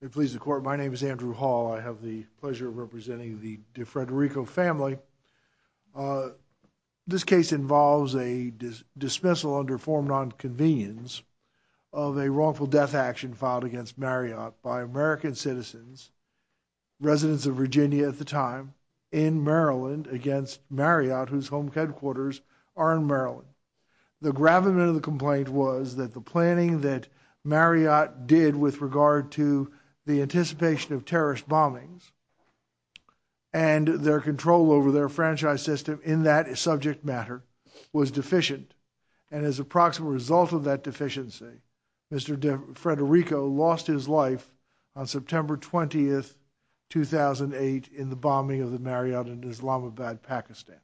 I'm pleased to report my name is Andrew Hall. I have the pleasure of representing the DiFederico family. This case involves a dismissal under form nonconvenience of a wrongful death action filed against Marriott by American citizens, residents of Virginia at the time, in Maryland against Marriott, whose home headquarters are in Maryland. The gravamen of the complaint was that the planning that Marriott did with regard to the anticipation of terrorist bombings and their control over their franchise system in that subject matter was deficient. And as a proximate result of that deficiency, Mr. DiFederico lost his life on September 20th, 2008, in the bombing of the Marriott in Islamabad, Pakistan.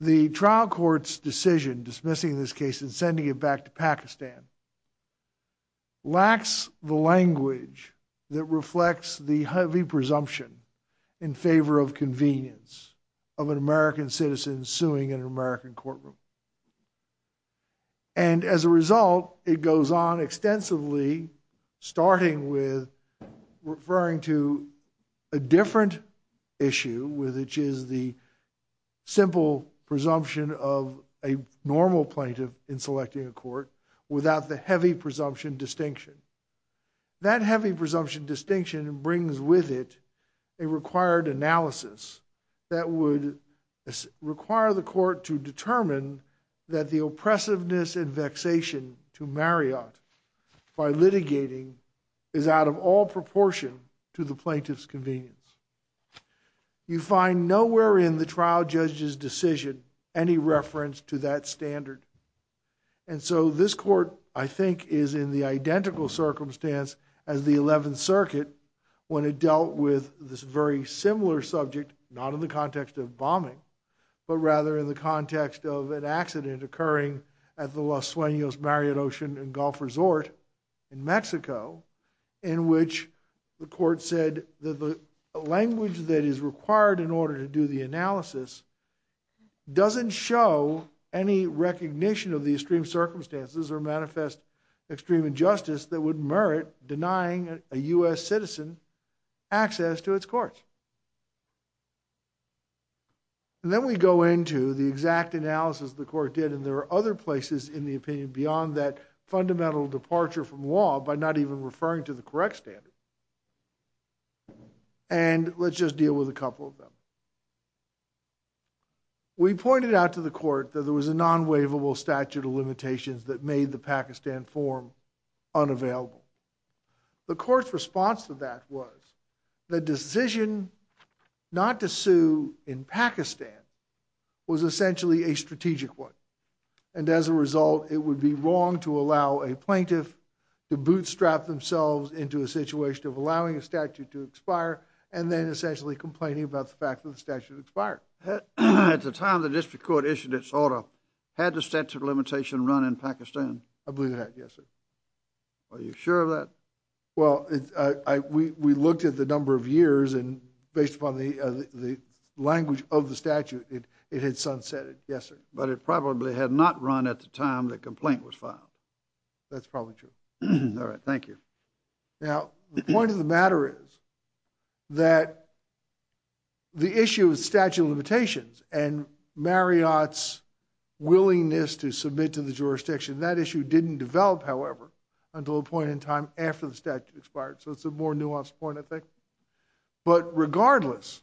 The trial court's decision dismissing this case and sending it back to Pakistan lacks the language that reflects the heavy presumption in favor of convenience of an American citizen suing an American citizen. And as a result, it goes on extensively, starting with referring to a different issue, which is the simple presumption of a normal plaintiff in selecting a court without the heavy presumption distinction. That heavy presumption distinction brings with it a required analysis that would require the court to determine that the oppressiveness and vexation to Marriott by litigating is out of all proportion to the plaintiff's convenience. You find nowhere in the trial judge's decision any reference to that standard. And so this court, I think, is in the identical circumstance as the 11th Circuit when it dealt with this very similar subject, not in the context of bombing, but rather in the context of an accident occurring at the Los Suenos Marriott Ocean and Gulf Resort in Mexico, in which the court said that the language that is required in order to do the analysis doesn't show any recognition of the extreme circumstances or manifest extreme injustice that would merit denying a US citizen access to its courts. And then we go into the exact analysis the court did, and there are other places in the opinion beyond that fundamental departure from law by not even referring to the correct standard. And let's just deal with a couple of them. We pointed out to the court that there was a non-waivable statute of limitations that made the Pakistan form unavailable. The court's response to that was the decision not to sue in Pakistan was essentially a strategic one. And as a result, it would be wrong to allow a plaintiff to bootstrap themselves into a situation of allowing a statute to expire. At the time the district court issued its order, had the statute of limitation run in Pakistan? I believe it had, yes, sir. Are you sure of that? Well, we looked at the number of years, and based upon the language of the statute, it had sunsetted, yes, sir. But it probably had not run at the time the complaint was filed. That's probably true. All right, the issue of statute of limitations and Marriott's willingness to submit to the jurisdiction, that issue didn't develop, however, until a point in time after the statute expired. So it's a more nuanced point, I think. But regardless,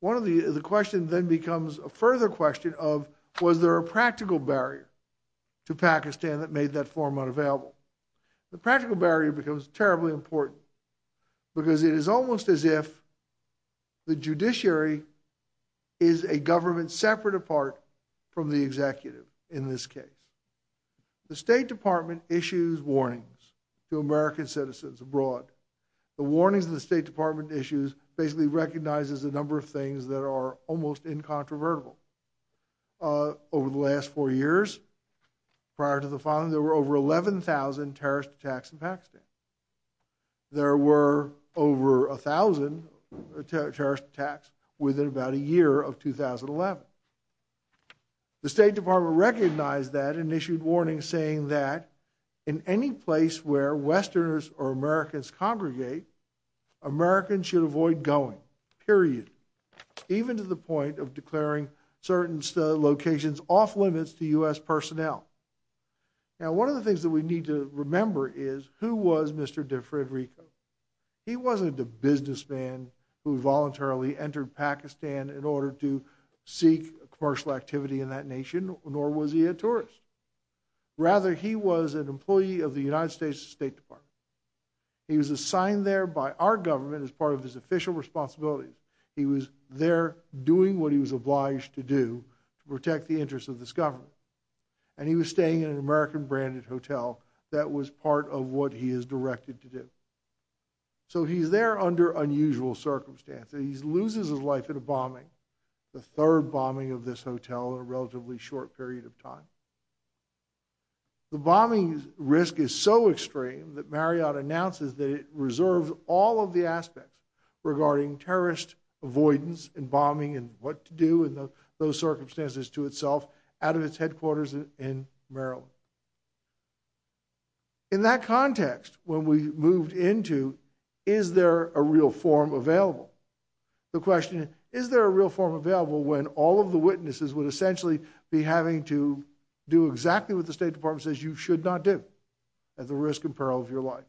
one of the questions then becomes a further question of was there a practical barrier to Pakistan that made that form unavailable? The practical barrier becomes terribly important because it is almost as if the judiciary is a government separate apart from the executive in this case. The State Department issues warnings to American citizens abroad. The warnings the State Department issues basically recognizes a number of things that are almost incontrovertible. Over the last four years, prior to the filing, there were over 11,000 terrorist attacks in Pakistan. There were over 1,000 terrorist attacks within about a year of 2011. The State Department recognized that and issued warnings saying that in any place where Westerners or Americans congregate, Americans should avoid going, period, even to the point of declaring certain locations off limits to U.S. personnel. Now, one of the things that we need to remember is who was Mr. DeFrederico? He wasn't a businessman who voluntarily entered Pakistan in order to seek commercial activity in that nation, nor was he a tourist. Rather, he was an employee of the United States State Department. He was assigned there by our government as part of his official responsibilities. He was there doing what he was obliged to do to protect the interests of this government. And he was staying in an American-branded hotel that was part of what he is directed to do. So he's there under unusual circumstances. He loses his life in a bombing, the third bombing of this hotel in a relatively short period of time. The bombing risk is so extreme that Marriott announces that it reserves all of the aspects regarding terrorist avoidance and bombing and what to do in those circumstances to itself out of its headquarters in Maryland. In that context, when we moved into, is there a real form available? The question, is there a real form available when all of the witnesses would essentially be having to do exactly what the State Department says you should not do at the risk and peril of your life?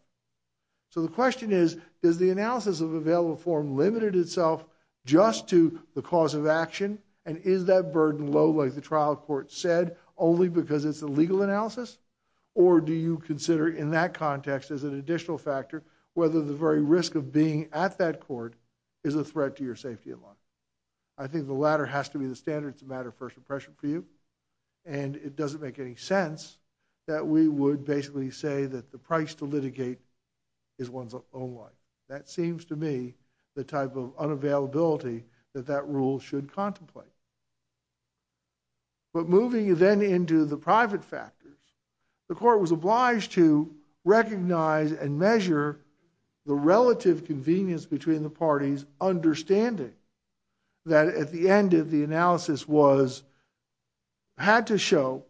So the question is, does the analysis of available form limit itself just to the cause of action? And is that burden low, like the trial court said, only because it's a legal analysis? Or do you consider, in that context, as an additional factor, whether the very risk of being at that court is a threat to your safety and life? I think the latter has to be the standard. It's a matter of first impression for you. And it doesn't make any sense that we would basically say that the price to litigate is one's own life. That seems to me the type of unavailability that that rule should contemplate. But moving then into the private factors, the court was obliged to recognize and measure the relative convenience between the parties, understanding that at the end of the analysis was, had to show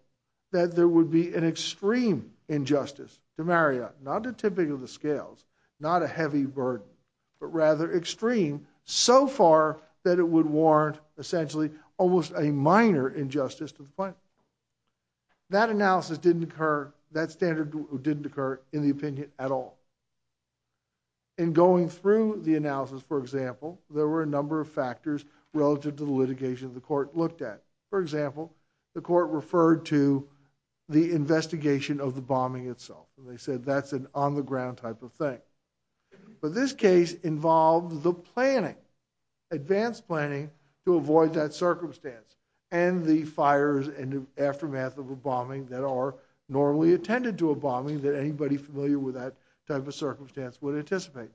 that there would be an extreme injustice to Marriott, not to tipping of the scales, not a heavy burden, but rather extreme so far that it would warrant essentially almost a minor injustice to the client. That analysis didn't occur, that standard didn't occur in the opinion at all. In going through the analysis, for example, there were a number of factors relative to the case. For example, the court referred to the investigation of the bombing itself. They said that's an on-the-ground type of thing. But this case involved the planning, advanced planning to avoid that circumstance, and the fires and the aftermath of a bombing that are normally attended to a bombing that anybody familiar with that type of circumstance would anticipate.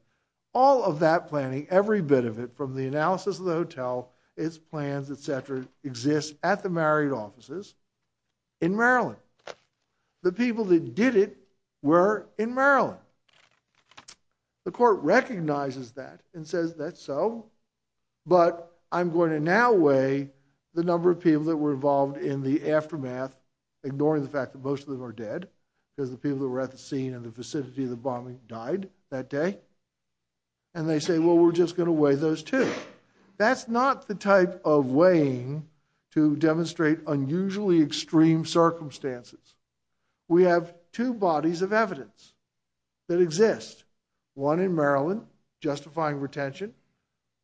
All of that planning, every bit of it, from the analysis of the hotel, its plans, etc., exists at the Marriott offices in Maryland. The people that did it were in Maryland. The court recognizes that and says that's so, but I'm going to now weigh the number of people that were involved in the aftermath, ignoring the fact that most of them are dead, because the people that were at the scene in the vicinity of the bombing died that day. And they say, well, we're just going to weigh those two. That's not the type of weighing to demonstrate unusually extreme circumstances. We have two bodies of evidence that exist, one in Maryland, justifying retention,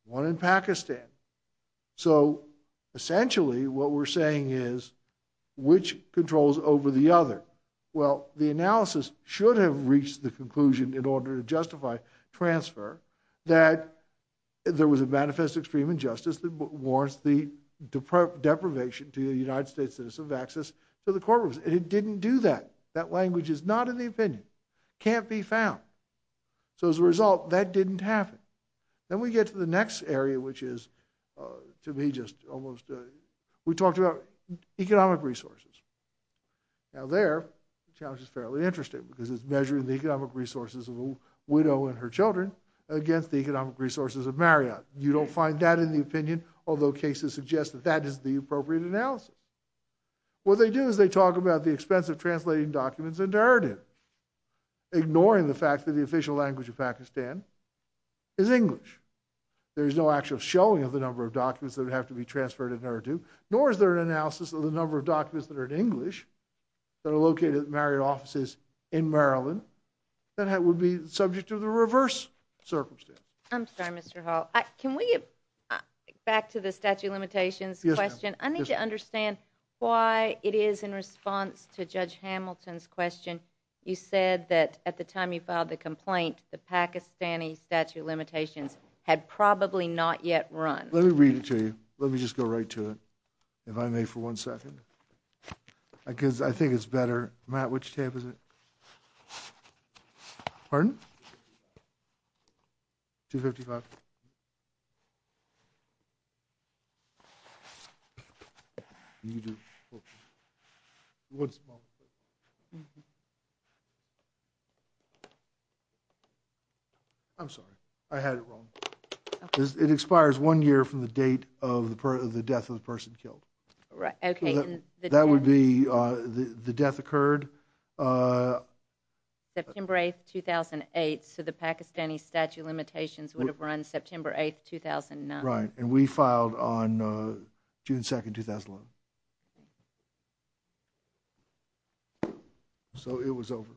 one in Pakistan. So essentially, what we're saying is, which controls over the other? Well, the analysis should have reached the conclusion in order to transfer that there was a manifest extreme injustice that warrants the deprivation to the United States citizens of access to the courtrooms. And it didn't do that. That language is not in the opinion, can't be found. So as a result, that didn't happen. Then we get to the next area, which is to me just almost, we talked about economic resources. Now there, the challenge is fairly interesting, because it's measuring the economic resources of a widow and her children against the economic resources of Marriott. You don't find that in the opinion, although cases suggest that that is the appropriate analysis. What they do is they talk about the expense of translating documents into Urdu, ignoring the fact that the official language of Pakistan is English. There is no actual showing of the number of documents that would have to be transferred in Urdu, nor is there an analysis of the number of documents that are in English that are located at Marriott offices in Maryland that would be subject to the reverse circumstance. I'm sorry, Mr. Hall. Can we get back to the statute of limitations question? I need to understand why it is in response to Judge Hamilton's question, you said that at the time you filed the complaint, the Pakistani statute of limitations had probably not yet run. Let me read it to you. Let me just go right to it, if I may, for one second, because I think it's better. Matt, which tape is it? Pardon? 255. I'm sorry, I had it wrong. It expires one year from the date of the death of the person killed. That would be the death occurred. September 8, 2008, so the Pakistani statute of limitations would have run September 8, 2009. Right, and we filed on June 2, 2011. So it was over,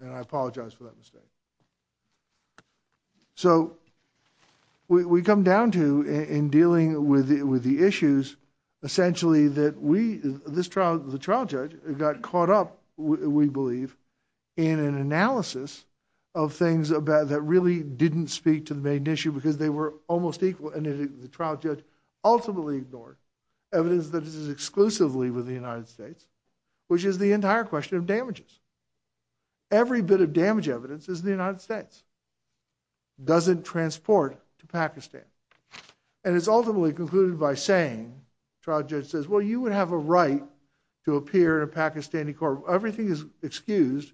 and I apologize for that mistake. So we come down to, in dealing with the issues, essentially that the trial judge got caught up, we believe, in an analysis of things about that really didn't speak to the main issue because they were almost equal, and the trial judge ultimately ignored evidence that this is exclusively with the United States, which is the entire question of damages. Every bit of damage evidence is the United States, doesn't transport to Pakistan, and it's ultimately concluded by saying, the trial judge says, well, you would have a right to appear in a Pakistani court. Everything is excused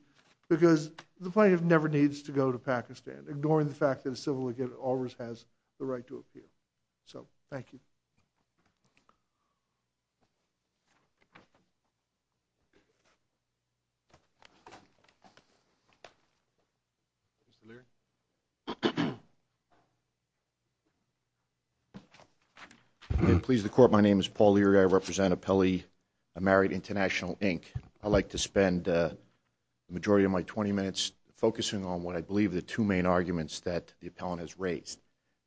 because the plaintiff never needs to go to Pakistan, ignoring the fact that a civil lawyer always has the right to appear. So, thank you. Please, the court. My name is Paul Leary. I represent Appelli Marriott International, Inc. I'd like to spend the majority of my 20 minutes focusing on what I believe are the two main arguments that the appellant has raised.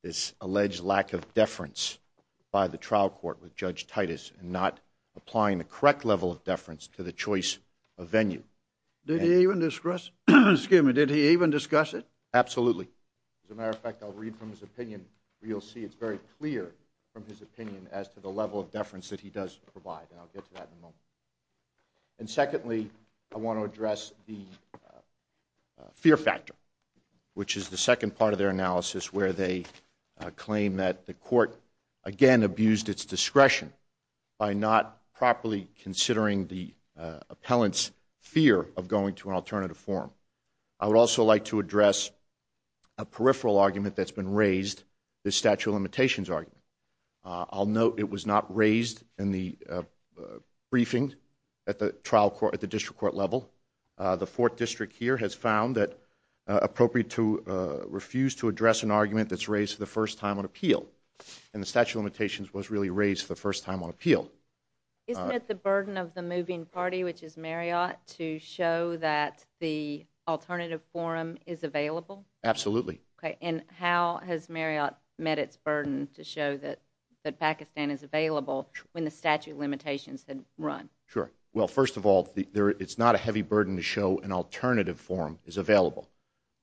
This alleged lack of deference by the trial court with Judge Titus in not applying the correct level of deference to the choice of venue. Did he even discuss it? Absolutely. As a matter of fact, I'll read from his opinion. You'll see it's very clear from his opinion as to the level of deference that he does provide, and I'll get to that in a moment. And secondly, I want to address the fear factor, which is the second part of their analysis where they claim that the court, again, abused its discretion by not properly considering the appellant's fear of going to an alternative forum. I would also like to address a peripheral argument that's been raised, the statute of limitations, in the briefing at the trial court, at the district court level. The fourth district here has found that appropriate to refuse to address an argument that's raised for the first time on appeal. And the statute of limitations was really raised for the first time on appeal. Isn't it the burden of the moving party, which is Marriott, to show that the alternative forum is available? Absolutely. Okay. And how has Marriott met its burden to show that Pakistan is available when the statute of limitations had run? Sure. Well, first of all, it's not a heavy burden to show an alternative forum is available.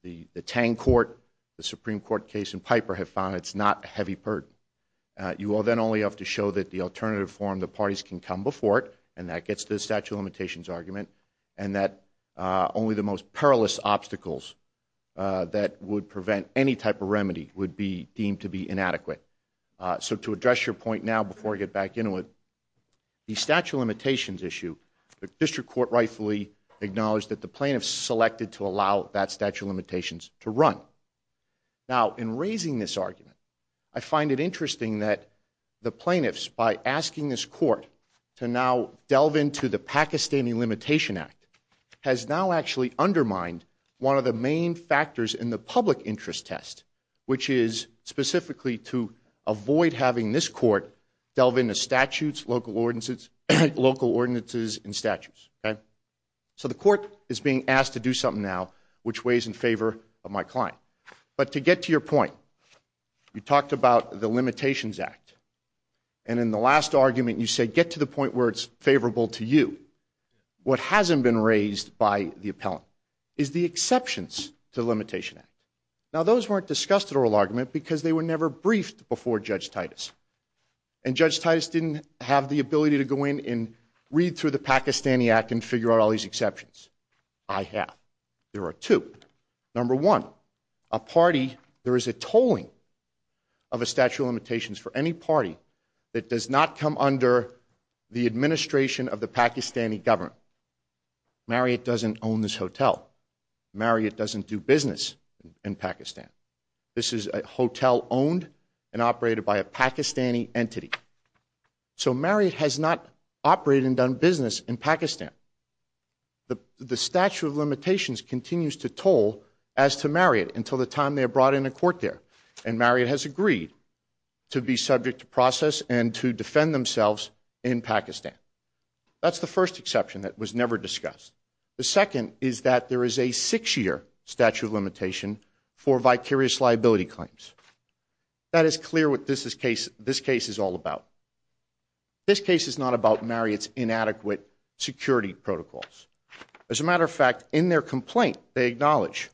The Tang Court, the Supreme Court case in Piper, have found it's not a heavy burden. You will then only have to show that the alternative forum, the parties can come before it, and that gets to the statute of limitations argument, and that only the most perilous obstacles that would prevent any type of remedy would be inadequate. So to address your point now, before I get back into it, the statute of limitations issue, the district court rightfully acknowledged that the plaintiffs selected to allow that statute of limitations to run. Now, in raising this argument, I find it interesting that the plaintiffs, by asking this court to now delve into the Pakistani Limitation Act, has now actually to avoid having this court delve into statutes, local ordinances, and statutes, okay? So the court is being asked to do something now, which weighs in favor of my client. But to get to your point, you talked about the Limitations Act, and in the last argument you said, get to the point where it's favorable to you. What hasn't been raised by the appellant is the exceptions to briefed before Judge Titus, and Judge Titus didn't have the ability to go in and read through the Pakistani Act and figure out all these exceptions. I have. There are two. Number one, a party, there is a tolling of a statute of limitations for any party that does not come under the administration of the Pakistani government. Marriott doesn't own this hotel. Marriott doesn't do business in and operated by a Pakistani entity. So Marriott has not operated and done business in Pakistan. The statute of limitations continues to toll as to Marriott until the time they are brought into court there, and Marriott has agreed to be subject to process and to defend themselves in Pakistan. That's the first exception that was never discussed. The second is that there is a is clear what this case is all about. This case is not about Marriott's inadequate security protocols. As a matter of fact, in their complaint, they acknowledge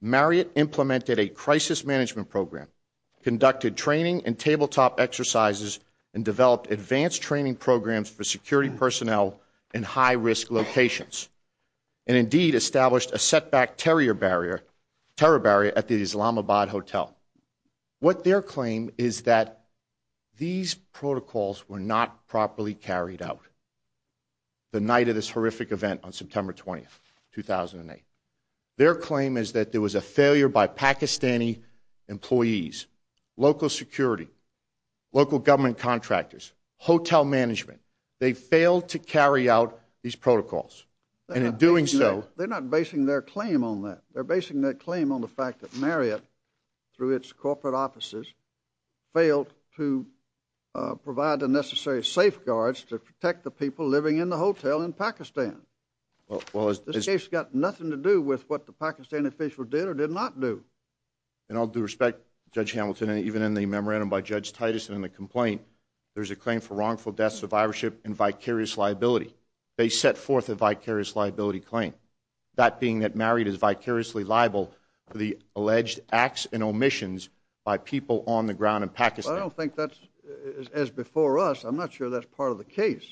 Marriott implemented a crisis management program, conducted training and tabletop exercises, and developed advanced training programs for security personnel in high-risk locations, and indeed established a setback terror barrier at the Islamabad hotel. What their claim is that these protocols were not properly carried out. The night of this horrific event on September 20, 2008, their claim is that there was a failure by Pakistani employees, local security, local government contractors, hotel management. They failed to carry out these protocols, and in doing so... They're not basing their claim on that. They're basing their claim on the fact that Marriott, through its corporate offices, failed to provide the necessary safeguards to protect the people living in the hotel in Pakistan. This case got nothing to do with what the Pakistan official did or did not do. And all due respect, Judge Hamilton, and even in the memorandum by Judge Titus in the complaint, there's a claim for wrongful death, survivorship, and vicarious liability. They set forth a vicarious liability claim. That being that Marriott is vicariously liable for the alleged acts and omissions by people on the ground in Pakistan. Well, I don't think that's... As before us, I'm not sure that's part of the case.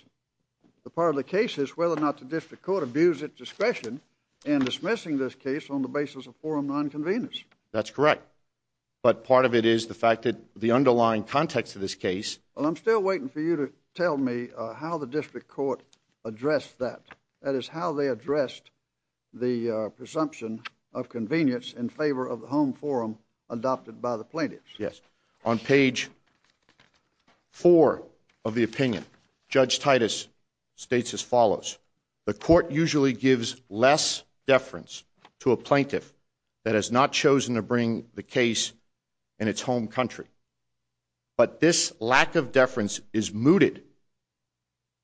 The part of the case is whether or not the district court abused its discretion in dismissing this case on the basis of forum non-convenience. That's correct. But part of it is the fact that the underlying context of this case... Well, I'm still waiting for you to tell me how the district court addressed that. That is, they addressed the presumption of convenience in favor of the home forum adopted by the plaintiffs. Yes. On page four of the opinion, Judge Titus states as follows. The court usually gives less deference to a plaintiff that has not chosen to bring the case in its home country. But this lack of deference is mooted.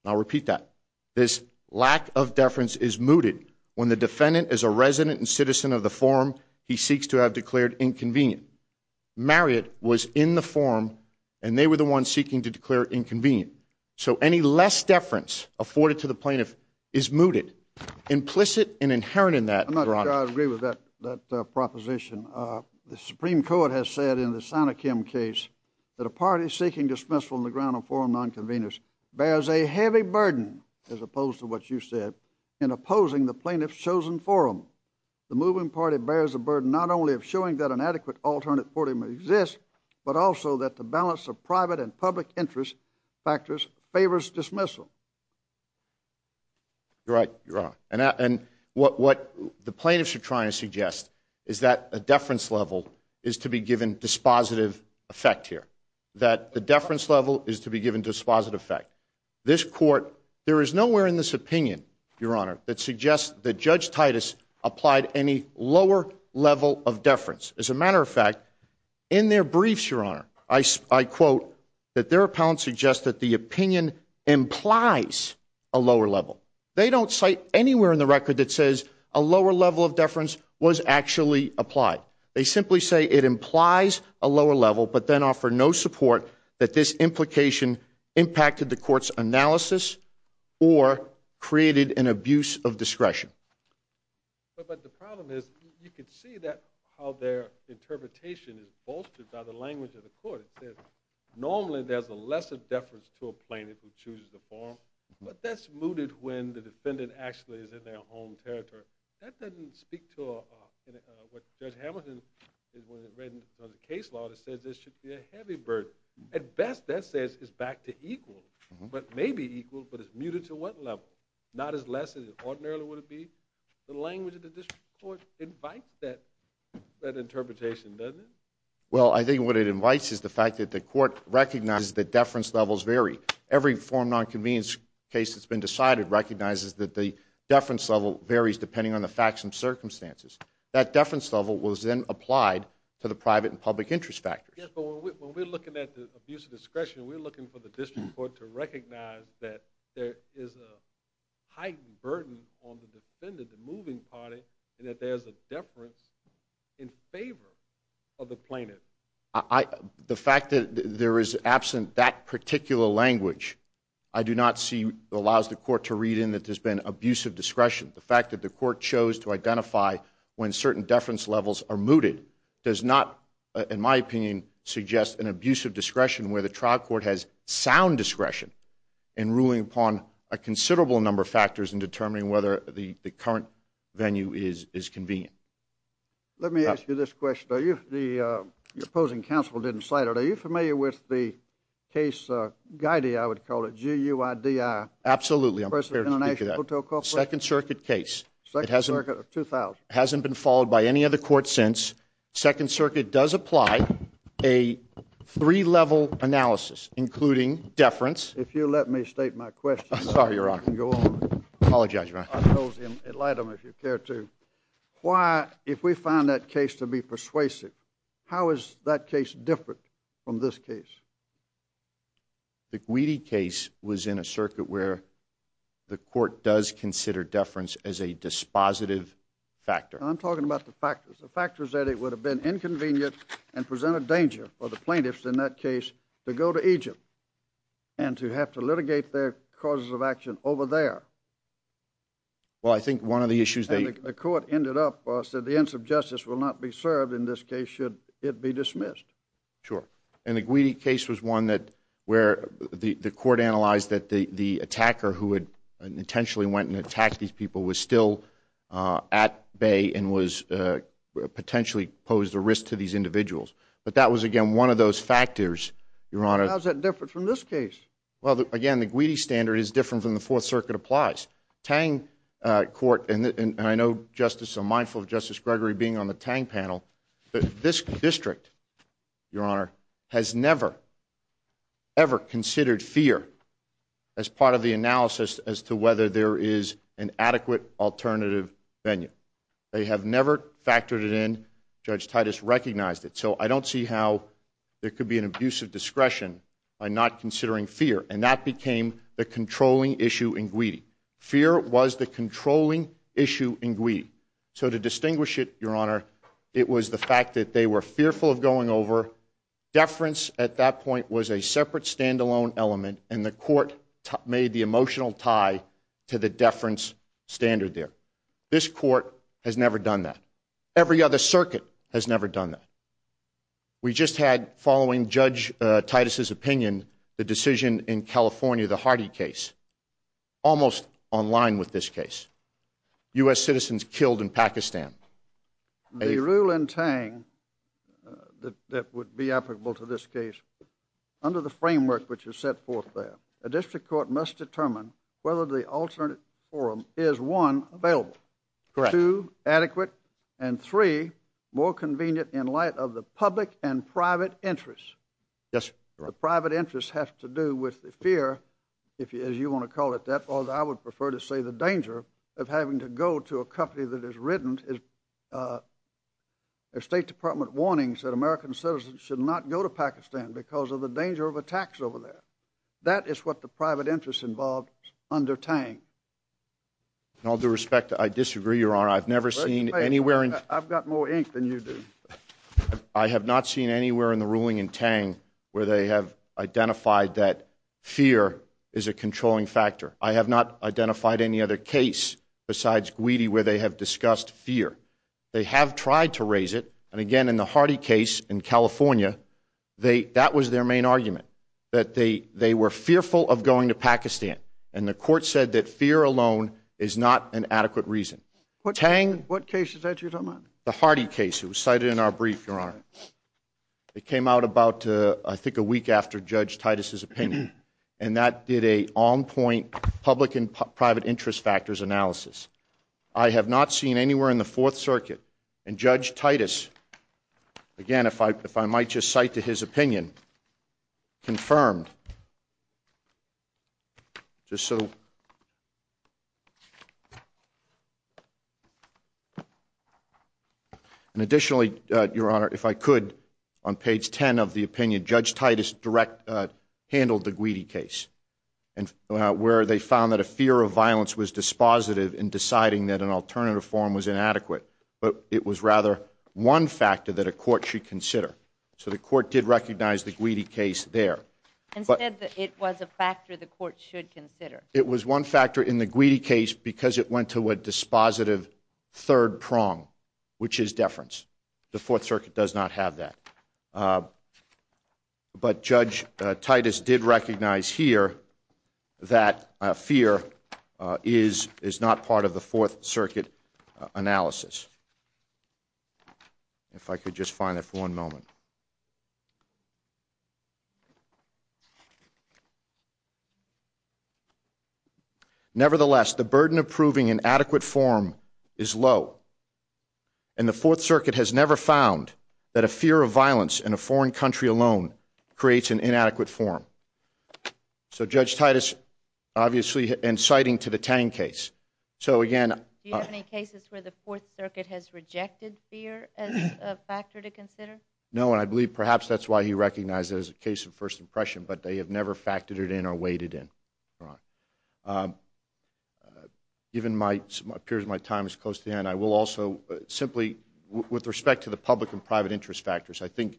I'll repeat that. This lack of deference is mooted when the defendant is a resident and citizen of the forum he seeks to have declared inconvenient. Marriott was in the forum and they were the ones seeking to declare inconvenient. So any less deference afforded to the plaintiff is mooted. Implicit and inherent in that... I agree with that proposition. The Supreme Court has said in the Sanokim case that a party seeking dismissal on the ground of forum non-convenience bears a heavy burden, as opposed to what you said, in opposing the plaintiff's chosen forum. The moving party bears the burden not only of showing that an adequate alternate forum exists, but also that the balance of private and public interest factors favors dismissal. You're right, Your Honor. And what the plaintiffs are trying to suggest is that a deference level is to be given dispositive effect here. That the deference level is to be given dispositive effect. This court, there is nowhere in this opinion, Your Honor, that suggests that Judge Titus applied any lower level of deference. As a matter of fact, in their briefs, Your Honor, I quote, that their appellant suggests that the opinion implies a lower level. They don't cite anywhere in the record that says a lower level of deference was actually applied. They simply say it implies a lower level, but then offer no support that this implication impacted the court's analysis or created an abuse of discretion. But the problem is you can see that how their normally there's a lesser deference to a plaintiff who chooses the forum, but that's mooted when the defendant actually is in their home territory. That doesn't speak to what Judge Hamilton, when he read the case law, that says this should be a heavy burden. At best, that says it's back to equal, but maybe equal, but it's muted to what level? Not as less as it ordinarily would be? The language of the district court invites that interpretation, doesn't it? Well, I think what it invites is the fact that the court recognizes that deference levels vary. Every forum nonconvenience case that's been decided recognizes that the deference level varies depending on the facts and circumstances. That deference level was then applied to the private and public interest factors. Yes, but when we're looking at the abuse of discretion, we're looking for the district court to recognize that there is a heightened burden on the defendant, moving party, and that there's a deference in favor of the plaintiff. The fact that there is absent that particular language, I do not see allows the court to read in that there's been abuse of discretion. The fact that the court chose to identify when certain deference levels are mooted does not, in my opinion, suggest an abuse of discretion where the trial court has sound discretion in ruling upon a considerable number of factors in determining whether the current venue is convenient. Let me ask you this question. Your opposing counsel didn't cite it. Are you familiar with the case, Guidi, I would call it, G-U-I-D-I? Absolutely, I'm prepared to speak to that. Second Circuit case. It hasn't been followed by any other court since. Second Circuit does apply a three-level analysis, including deference. If you'll let me state my question. Sorry, Your Honor. You can go on. Apologize, Your Honor. I told him, enlighten him if you care to. Why, if we find that case to be persuasive, how is that case different from this case? The Guidi case was in a circuit where the court does consider deference as a dispositive factor. I'm talking about the factors, the factors that it would have been inconvenient and presented danger for the plaintiffs in that and to have to litigate their causes of action over there. Well, I think one of the issues that the court ended up was that the ends of justice will not be served in this case should it be dismissed. Sure. And the Guidi case was one that where the court analyzed that the attacker who had intentionally went and attacked these people was still at bay and was potentially posed a risk to these individuals. But that was, again, one of those factors, Your Honor. How's that different from this case? Well, again, the Guidi standard is different from the Fourth Circuit applies. Tang Court, and I know, Justice, I'm mindful of Justice Gregory being on the Tang panel, this district, Your Honor, has never, ever considered fear as part of the analysis as to whether there is an adequate alternative venue. They have never factored it in. Judge Gregory has never done that. Every other circuit has never done that. We just had following Titus's opinion, the decision in California, the Hardy case, almost online with this case, U.S. citizens killed in Pakistan. The rule in Tang that would be applicable to this case, under the framework which is set forth there, a district court must determine whether the alternate forum is, one, available, two, adequate, and three, more convenient in light of the public and private interests. Yes, Your Honor. The private interests have to do with the fear, if you want to call it that, or I would prefer to say the danger of having to go to a company that has written State Department warnings that American citizens should not go to Pakistan because of the danger of attacks over there. That is what the private interests involved under Tang. In all due respect, I disagree, Your Honor. I've never seen anywhere in... in Tang where they have identified that fear is a controlling factor. I have not identified any other case besides Guidi where they have discussed fear. They have tried to raise it, and again, in the Hardy case in California, that was their main argument, that they were fearful of going to Pakistan, and the court said that fear alone is not an adequate reason. Tang... What case is that you're talking about? The Hardy case. It was cited in our brief, Your Honor. It came out about, I think, a week after Judge Titus's opinion, and that did a on-point public and private interest factors analysis. I have not seen anywhere in the Fourth Circuit, and Judge Titus, again, if I might just cite to his opinion, confirmed, just so... And additionally, Your Honor, if I could, on page 10 of the opinion, Judge Titus direct... handled the Guidi case, and where they found that a fear of violence was dispositive in deciding that an alternative form was inadequate, but it was rather one factor that a court should consider. So the court did recognize the Guidi case there. Instead, it was a factor the court should consider. It was one factor in the Guidi case because it went to a dispositive third prong, which is deference. The Fourth Circuit does not have that. But Judge Titus did recognize here that fear is not part of the Fourth Circuit analysis. If I could just find it for one moment. Nevertheless, the burden of proving an adequate form is low, and the Fourth Circuit has never found that a fear of violence in a foreign country alone creates an inadequate form. So, Judge Titus, obviously, inciting to the Tang case. So, again... Do you have any cases where the Fourth Circuit has rejected fear as a factor to consider? No, I don't. And I believe perhaps that's why he recognized it as a case of first impression, but they have never factored it in or weighed it in. Given my time is close to the end, I will also simply, with respect to the public and private interest factors, I think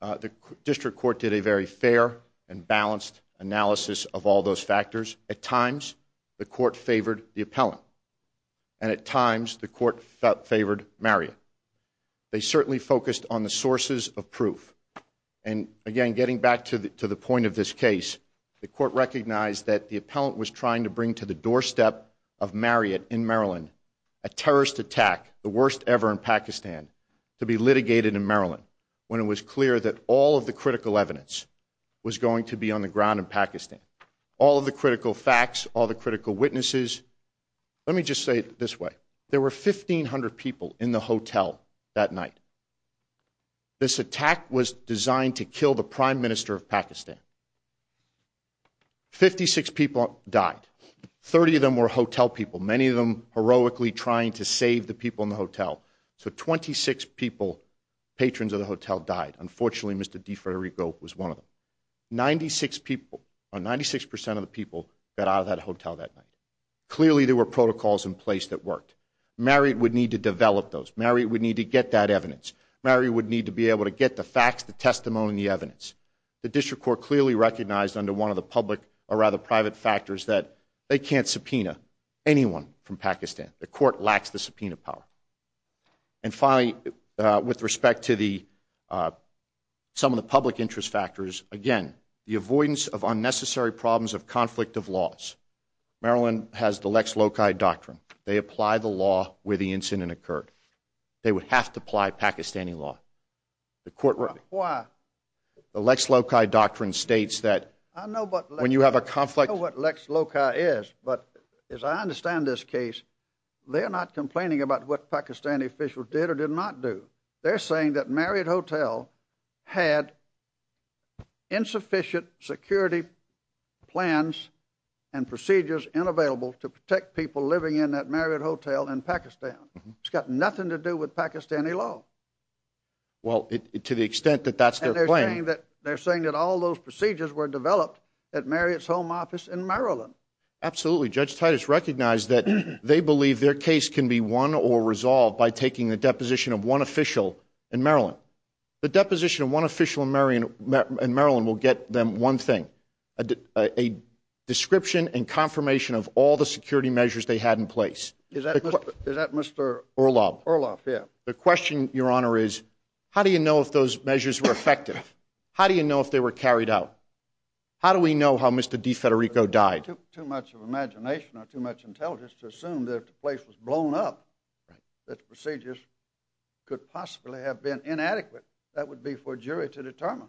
the district court did a very fair and balanced analysis of all those factors. At times, the court favored the appellant. And at times, the court favored Marion. They certainly focused on the sources of proof. And again, getting back to the point of this case, the court recognized that the appellant was trying to bring to the doorstep of Marion in Maryland a terrorist attack, the worst ever in Pakistan, to be litigated in Maryland when it was clear that all of the critical evidence was going to be on the ground in Pakistan. All of the critical facts, all the facts. This attack was designed to kill the Prime Minister of Pakistan. Fifty-six people died. Thirty of them were hotel people, many of them heroically trying to save the people in the hotel. So 26 people, patrons of the hotel, died. Unfortunately, Mr. DeFederico was one of them. Ninety-six people, or 96 percent of the people, got out of that hotel that night. Clearly, there were protocols in place that worked. Marion would need to develop those. Marion would need to get that evidence. Marion would need to be able to get the facts, the testimony, and the evidence. The district court clearly recognized under one of the public, or rather private factors, that they can't subpoena anyone from Pakistan. The court lacks the subpoena power. And finally, with respect to some of the public interest factors, again, the avoidance of unnecessary problems of conflict of laws. Maryland has the Lex Lokai doctrine. They would have to apply Pakistani law. The Lex Lokai doctrine states that when you have a conflict... I know what Lex Lokai is, but as I understand this case, they're not complaining about what Pakistani officials did or did not do. They're saying that Marriott Hotel had insufficient security plans and procedures and available to protect people living in that Marriott Hotel in Pakistan. It's got nothing to do with Pakistani law. Well, to the extent that that's their claim... They're saying that all those procedures were developed at Marriott's home office in Maryland. Absolutely. Judge Titus recognized that they believe their case can be won or resolved by taking the deposition of one official in Maryland. The deposition of one official in Maryland will get them one thing, a description and confirmation of all the security measures they had in place. Is that Mr. Orloff? Orloff, yeah. The question, Your Honor, is how do you know if those measures were effective? How do you know if they were carried out? How do we know how Mr. DeFederico died? Too much of imagination or too much intelligence to assume that if the place was blown up, that the procedures could possibly have been inadequate. That would be for a jury to determine.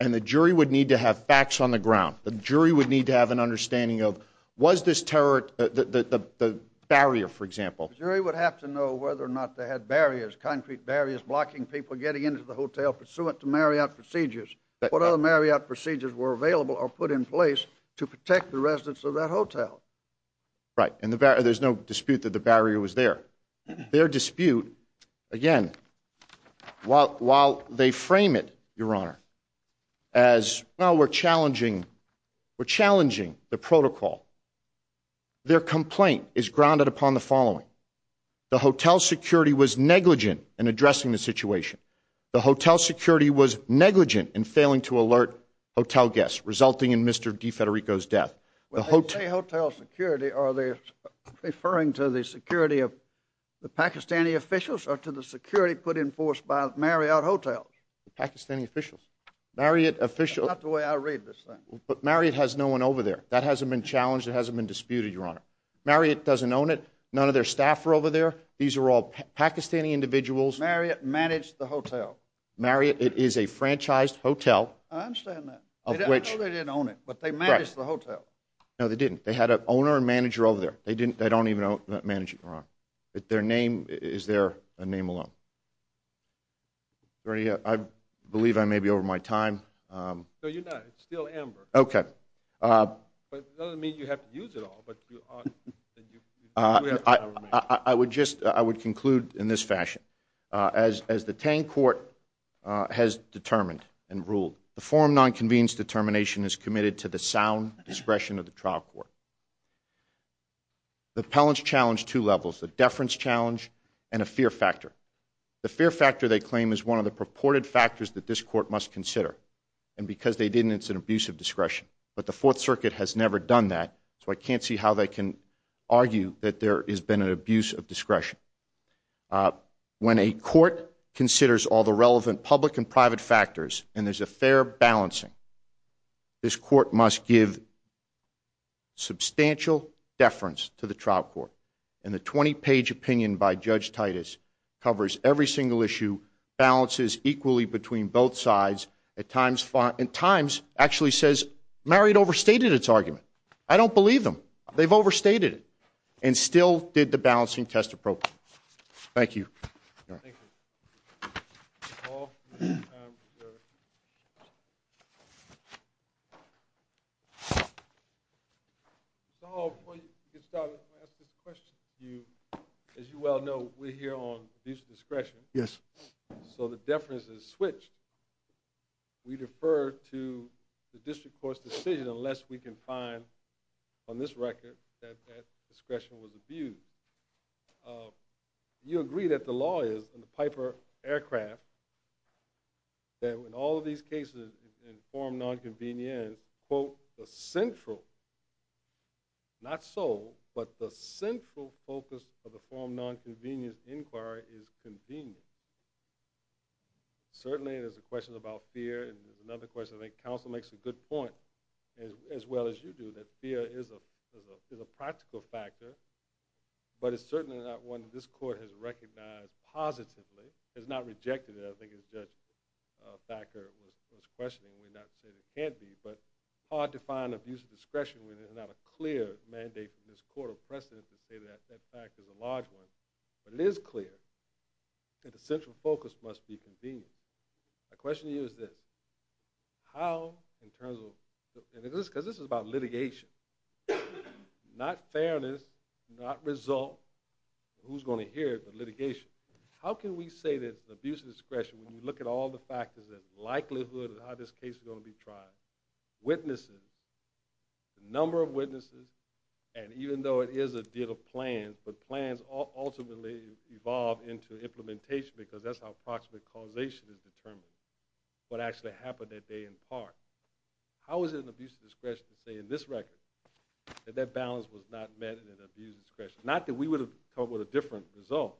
And the jury would need to have facts on the ground. The jury would need to have an understanding of was this terror... the barrier, for example. Jury would have to know whether or not they had barriers, concrete barriers blocking people getting into the hotel pursuant to Marriott procedures. What other Marriott procedures were available or put in place to protect the residents of that hotel? Right. And there's no dispute that the barrier was there. Their dispute, again, while they frame it, Your Honor, as, well, we're challenging the protocol, their complaint is grounded upon the following. The hotel security was negligent in addressing the situation. The hotel security was negligent in failing to alert hotel guests, resulting in Mr. DeFederico's death. When they say hotel security, are they referring to the security of security put in force by Marriott Hotels? The Pakistani officials. Marriott officials... That's not the way I read this thing. But Marriott has no one over there. That hasn't been challenged. It hasn't been disputed, Your Honor. Marriott doesn't own it. None of their staff are over there. These are all Pakistani individuals. Marriott managed the hotel. Marriott is a franchised hotel. I understand that. I know they didn't own it, but they managed the hotel. No, they didn't. They had an owner and manager over there. They don't even know managing Marriott. Is there a name alone? I believe I may be over my time. No, you're not. It's still Amber. Okay. But it doesn't mean you have to use it all. I would conclude in this fashion. As the Tang Court has determined and ruled, the forum non-convenes determination is committed to the sound discretion of the trial court. The appellants challenge two levels, the deference challenge and a fear factor. The fear factor, they claim, is one of the purported factors that this court must consider. And because they didn't, it's an abuse of discretion. But the Fourth Circuit has never done that, so I can't see how they can argue that there has been an abuse of discretion. When a court considers all the relevant public and private factors, and there's a fair balancing, this court must give substantial deference to the trial court. And the 20-page opinion by Judge Titus covers every single issue, balances equally between both sides, at times actually says Marriott overstated its argument. I don't believe them. They've overstated it and still did the balancing test appropriately. Thank you. Mr. Hall, before you get started, I want to ask this question to you. As you well know, we're here on abuse of discretion. Yes. So the deference is switched. We defer to the district court's decision unless we can find, on this record, that that discretion was abused. You agree that the law is, in the Piper aircraft, that in all of these cases, in form nonconvenient, quote, the central, not so, but the central focus of the form nonconvenient inquiry is convenience. Certainly, there's a question about fear, and there's another question, I think counsel makes a good point, as well as you do, that fear is a practical factor, but it's certainly not one that this court has recognized positively, has not rejected it, I think as Judge Thacker was questioning, we're not saying it can't be, but it's hard to find abuse of discretion when there's not a clear mandate from this court of precedence to say that that fact is a large one. But it is clear that the central focus must be convenience. My question to you is this, how, in terms of, because this is about litigation, not fairness, not result, who's going to hear it, but litigation, how can we say that abuse of discretion, when you look at all the factors, that likelihood of how this case is going to be tried, witnesses, the number of witnesses, and even though it is a deal of plans, but plans ultimately evolve into implementation because that's how approximate causation is determined, what actually happened that day in part, how is it an abuse of discretion to say in this record that that balance was not met in an abuse of discretion, not that we would have come up with a different result,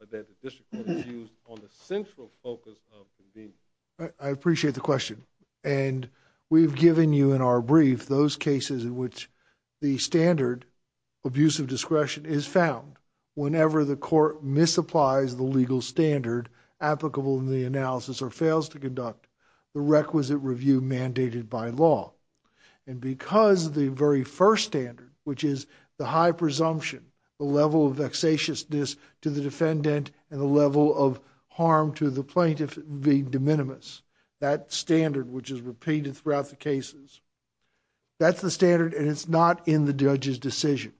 but that the district was used on the central focus of convenience? I appreciate the question. And we've given you in our brief those cases in which the standard abuse of discretion is found whenever the court misapplies the legal standard applicable in the analysis or fails to conduct the requisite review mandated by law. And because the very first standard, which is the high presumption, the level of vexatiousness to the defendant and the level of harm to the plaintiff being de minimis, that standard, which is repeated throughout the cases, that's the standard and it's not in the judge's decision.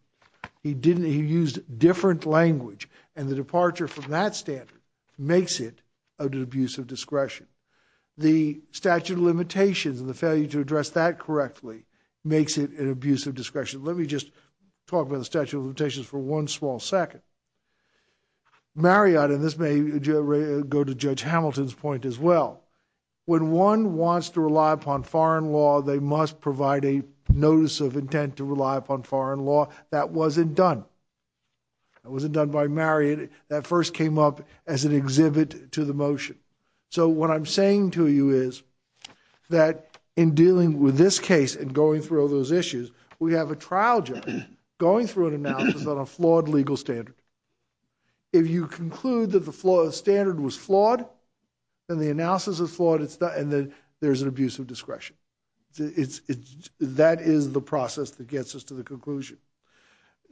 He used different language and the departure from that standard makes it an abuse of discretion. The statute of limitations and the failure to address that correctly makes it an abuse of discretion. Let me just talk about the statute of limitations for one small second. Marriott, and this may go to Judge Hamilton's point as well, when one wants to rely upon foreign law, they must provide a notice of intent to rely upon foreign law. That wasn't done. That wasn't done by Marriott. That first came up as an exhibit to the motion. So what I'm saying to you is that in dealing with this case and going through all those issues, we have a trial judge going through an analysis on a flawed legal standard. If you conclude that the standard was flawed and the analysis is flawed, and then there's an abuse of discretion. That is the process that gets us to the conclusion.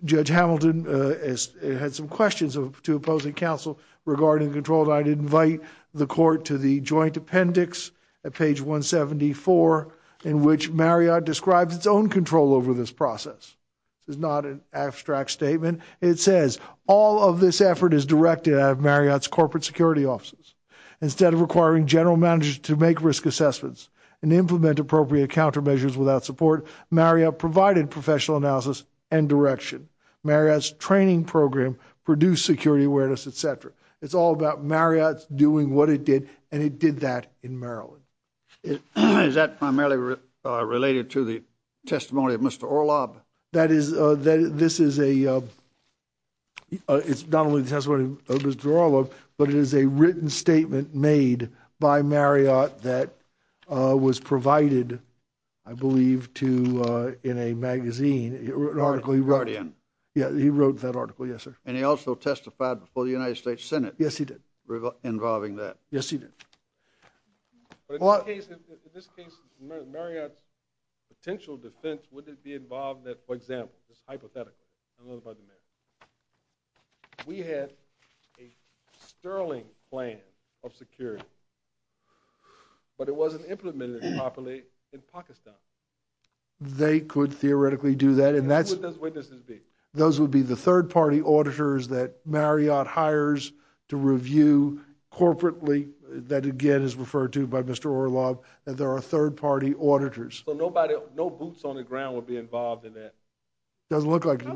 Judge Hamilton had some questions to opposing counsel regarding control and I'd invite the court to the joint appendix at page 174, in which Marriott describes its own control over this process. This is not an abstract statement. It says all of this effort is directed out of Marriott's corporate security offices. Instead of requiring general managers to make risk assessments and implement appropriate countermeasures without support, Marriott provided professional analysis and direction. Marriott's training program produced security awareness, et cetera. It's all about Marriott doing what it did and it did that in Maryland. Is that primarily related to the testimony of Mr. Orlob? That is, this is a, it's not only the testimony of Mr. Orlob, but it is a written statement made by Marriott that was provided, I believe, to, in a magazine, an article he wrote. Guardian. Yeah, he wrote that article, yes, sir. And he also testified before the United States Senate. Yes, he did. Involving that. Yes, he did. But in this case, Marriott's potential defense, would it be involved that, for example, just hypothetically, I don't know about the math, we had a sterling plan of security, but it wasn't implemented properly in Pakistan. They could theoretically do that. And who would those witnesses be? Those would be the third-party auditors that Marriott hires to review corporately, that, again, is referred to by Mr. Orlob, that there are third-party auditors. So nobody, no boots on the ground would be involved in that? It doesn't look like it. How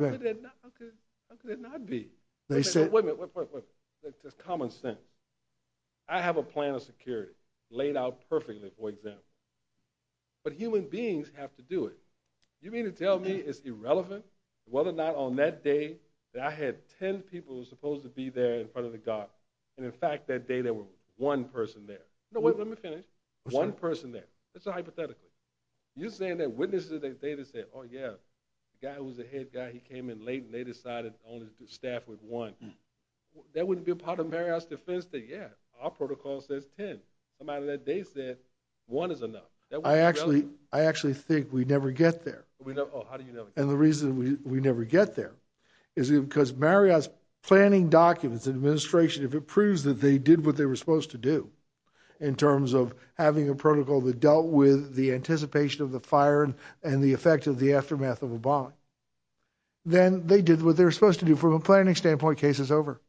could it not be? They said- Wait a minute, wait, wait, wait. That's just common sense. I have a plan of security laid out perfectly, for example. But human beings have to do it. You mean to tell me it's irrelevant whether or not on that day that I had 10 people who were supposed to be there in front of the guard, and in fact, that day, there were one person there. No, wait, let me finish. One person there. That's a hypothetical. You're saying that witnesses of that day that said, oh, yeah, the guy who was the head guy, he came in late, and they decided only to staff with one. That wouldn't be a part of Marriott's defense, that, yeah, our protocol says 10. The amount of that day said one is enough. I actually think we never get there. Oh, how do you never get there? And the reason we never get there is because Marriott's planning documents and administration, if it proves that they did what they were supposed to do in terms of having a protocol that dealt with the anticipation of the fire and the effect of the aftermath of a bomb, then they did what they were supposed to do. From a planning standpoint, case is over.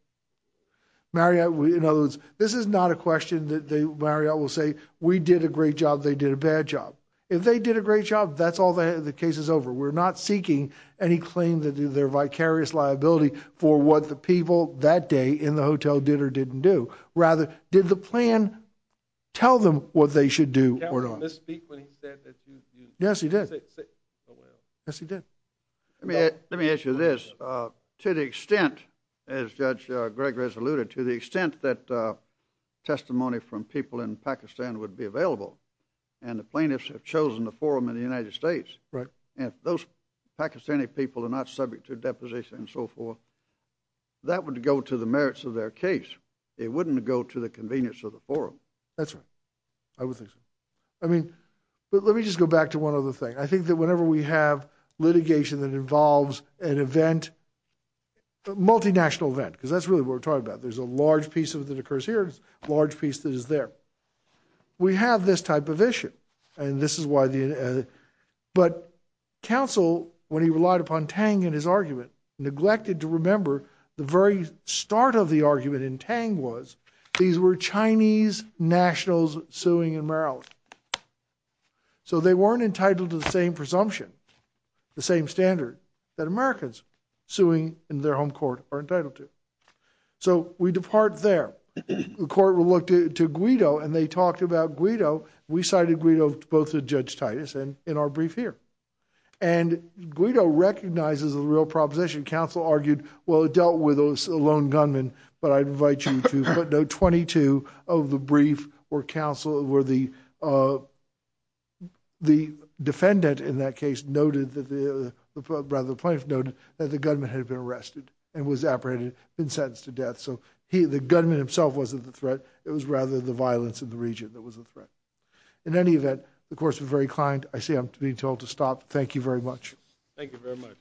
Marriott, in other words, this is not a question that Marriott will say, we did a great job, they did a bad job. If they did a great job, that's all the case is over. We're not seeking any claim that they're vicarious liability for what the people that day in the hotel did or didn't do. Rather, did the plan tell them what they should do or not? Did the plan misspeak when he said that you... Yes, he did. Yes, he did. Let me ask you this. To the extent, as Judge Gregg has alluded, to the extent that testimony from people in Pakistan would be available and the plaintiffs have chosen the forum in the United States, if those Pakistani people are not subject to deposition and so forth, that would go to the merits of their case. It wouldn't go to the convenience of the forum. That's right. I would think so. I mean, let me just go back to one other thing. I think that whenever we have litigation that involves an event, multinational event, because that's really what we're talking about. There's a large piece of it that occurs here, there's a large piece that is there. We have this type of issue and this is why the... But counsel, when he relied upon Tang in his argument, neglected to remember the very start of the argument in Tang was these were Chinese nationals suing in Maryland. So they weren't entitled to the same presumption, the same standard that Americans suing in their home court are entitled to. So we depart there. The court will look to Guido and they talked about Guido. We cited Guido both to Judge Titus and in our brief here. And Guido recognizes a real proposition. Counsel argued, well, it dealt with a lone gunman, but I'd invite you to put note 22 of the brief where counsel, where the defendant in that case noted that the, rather plaintiff noted that the gunman had been arrested and was apprehended, been sentenced to death. So he, the gunman himself wasn't the threat. It was rather the violence in the region that was a threat. In any event, the court was very kind. I see I'm being told to stop. Thank you very much. Thank you very much.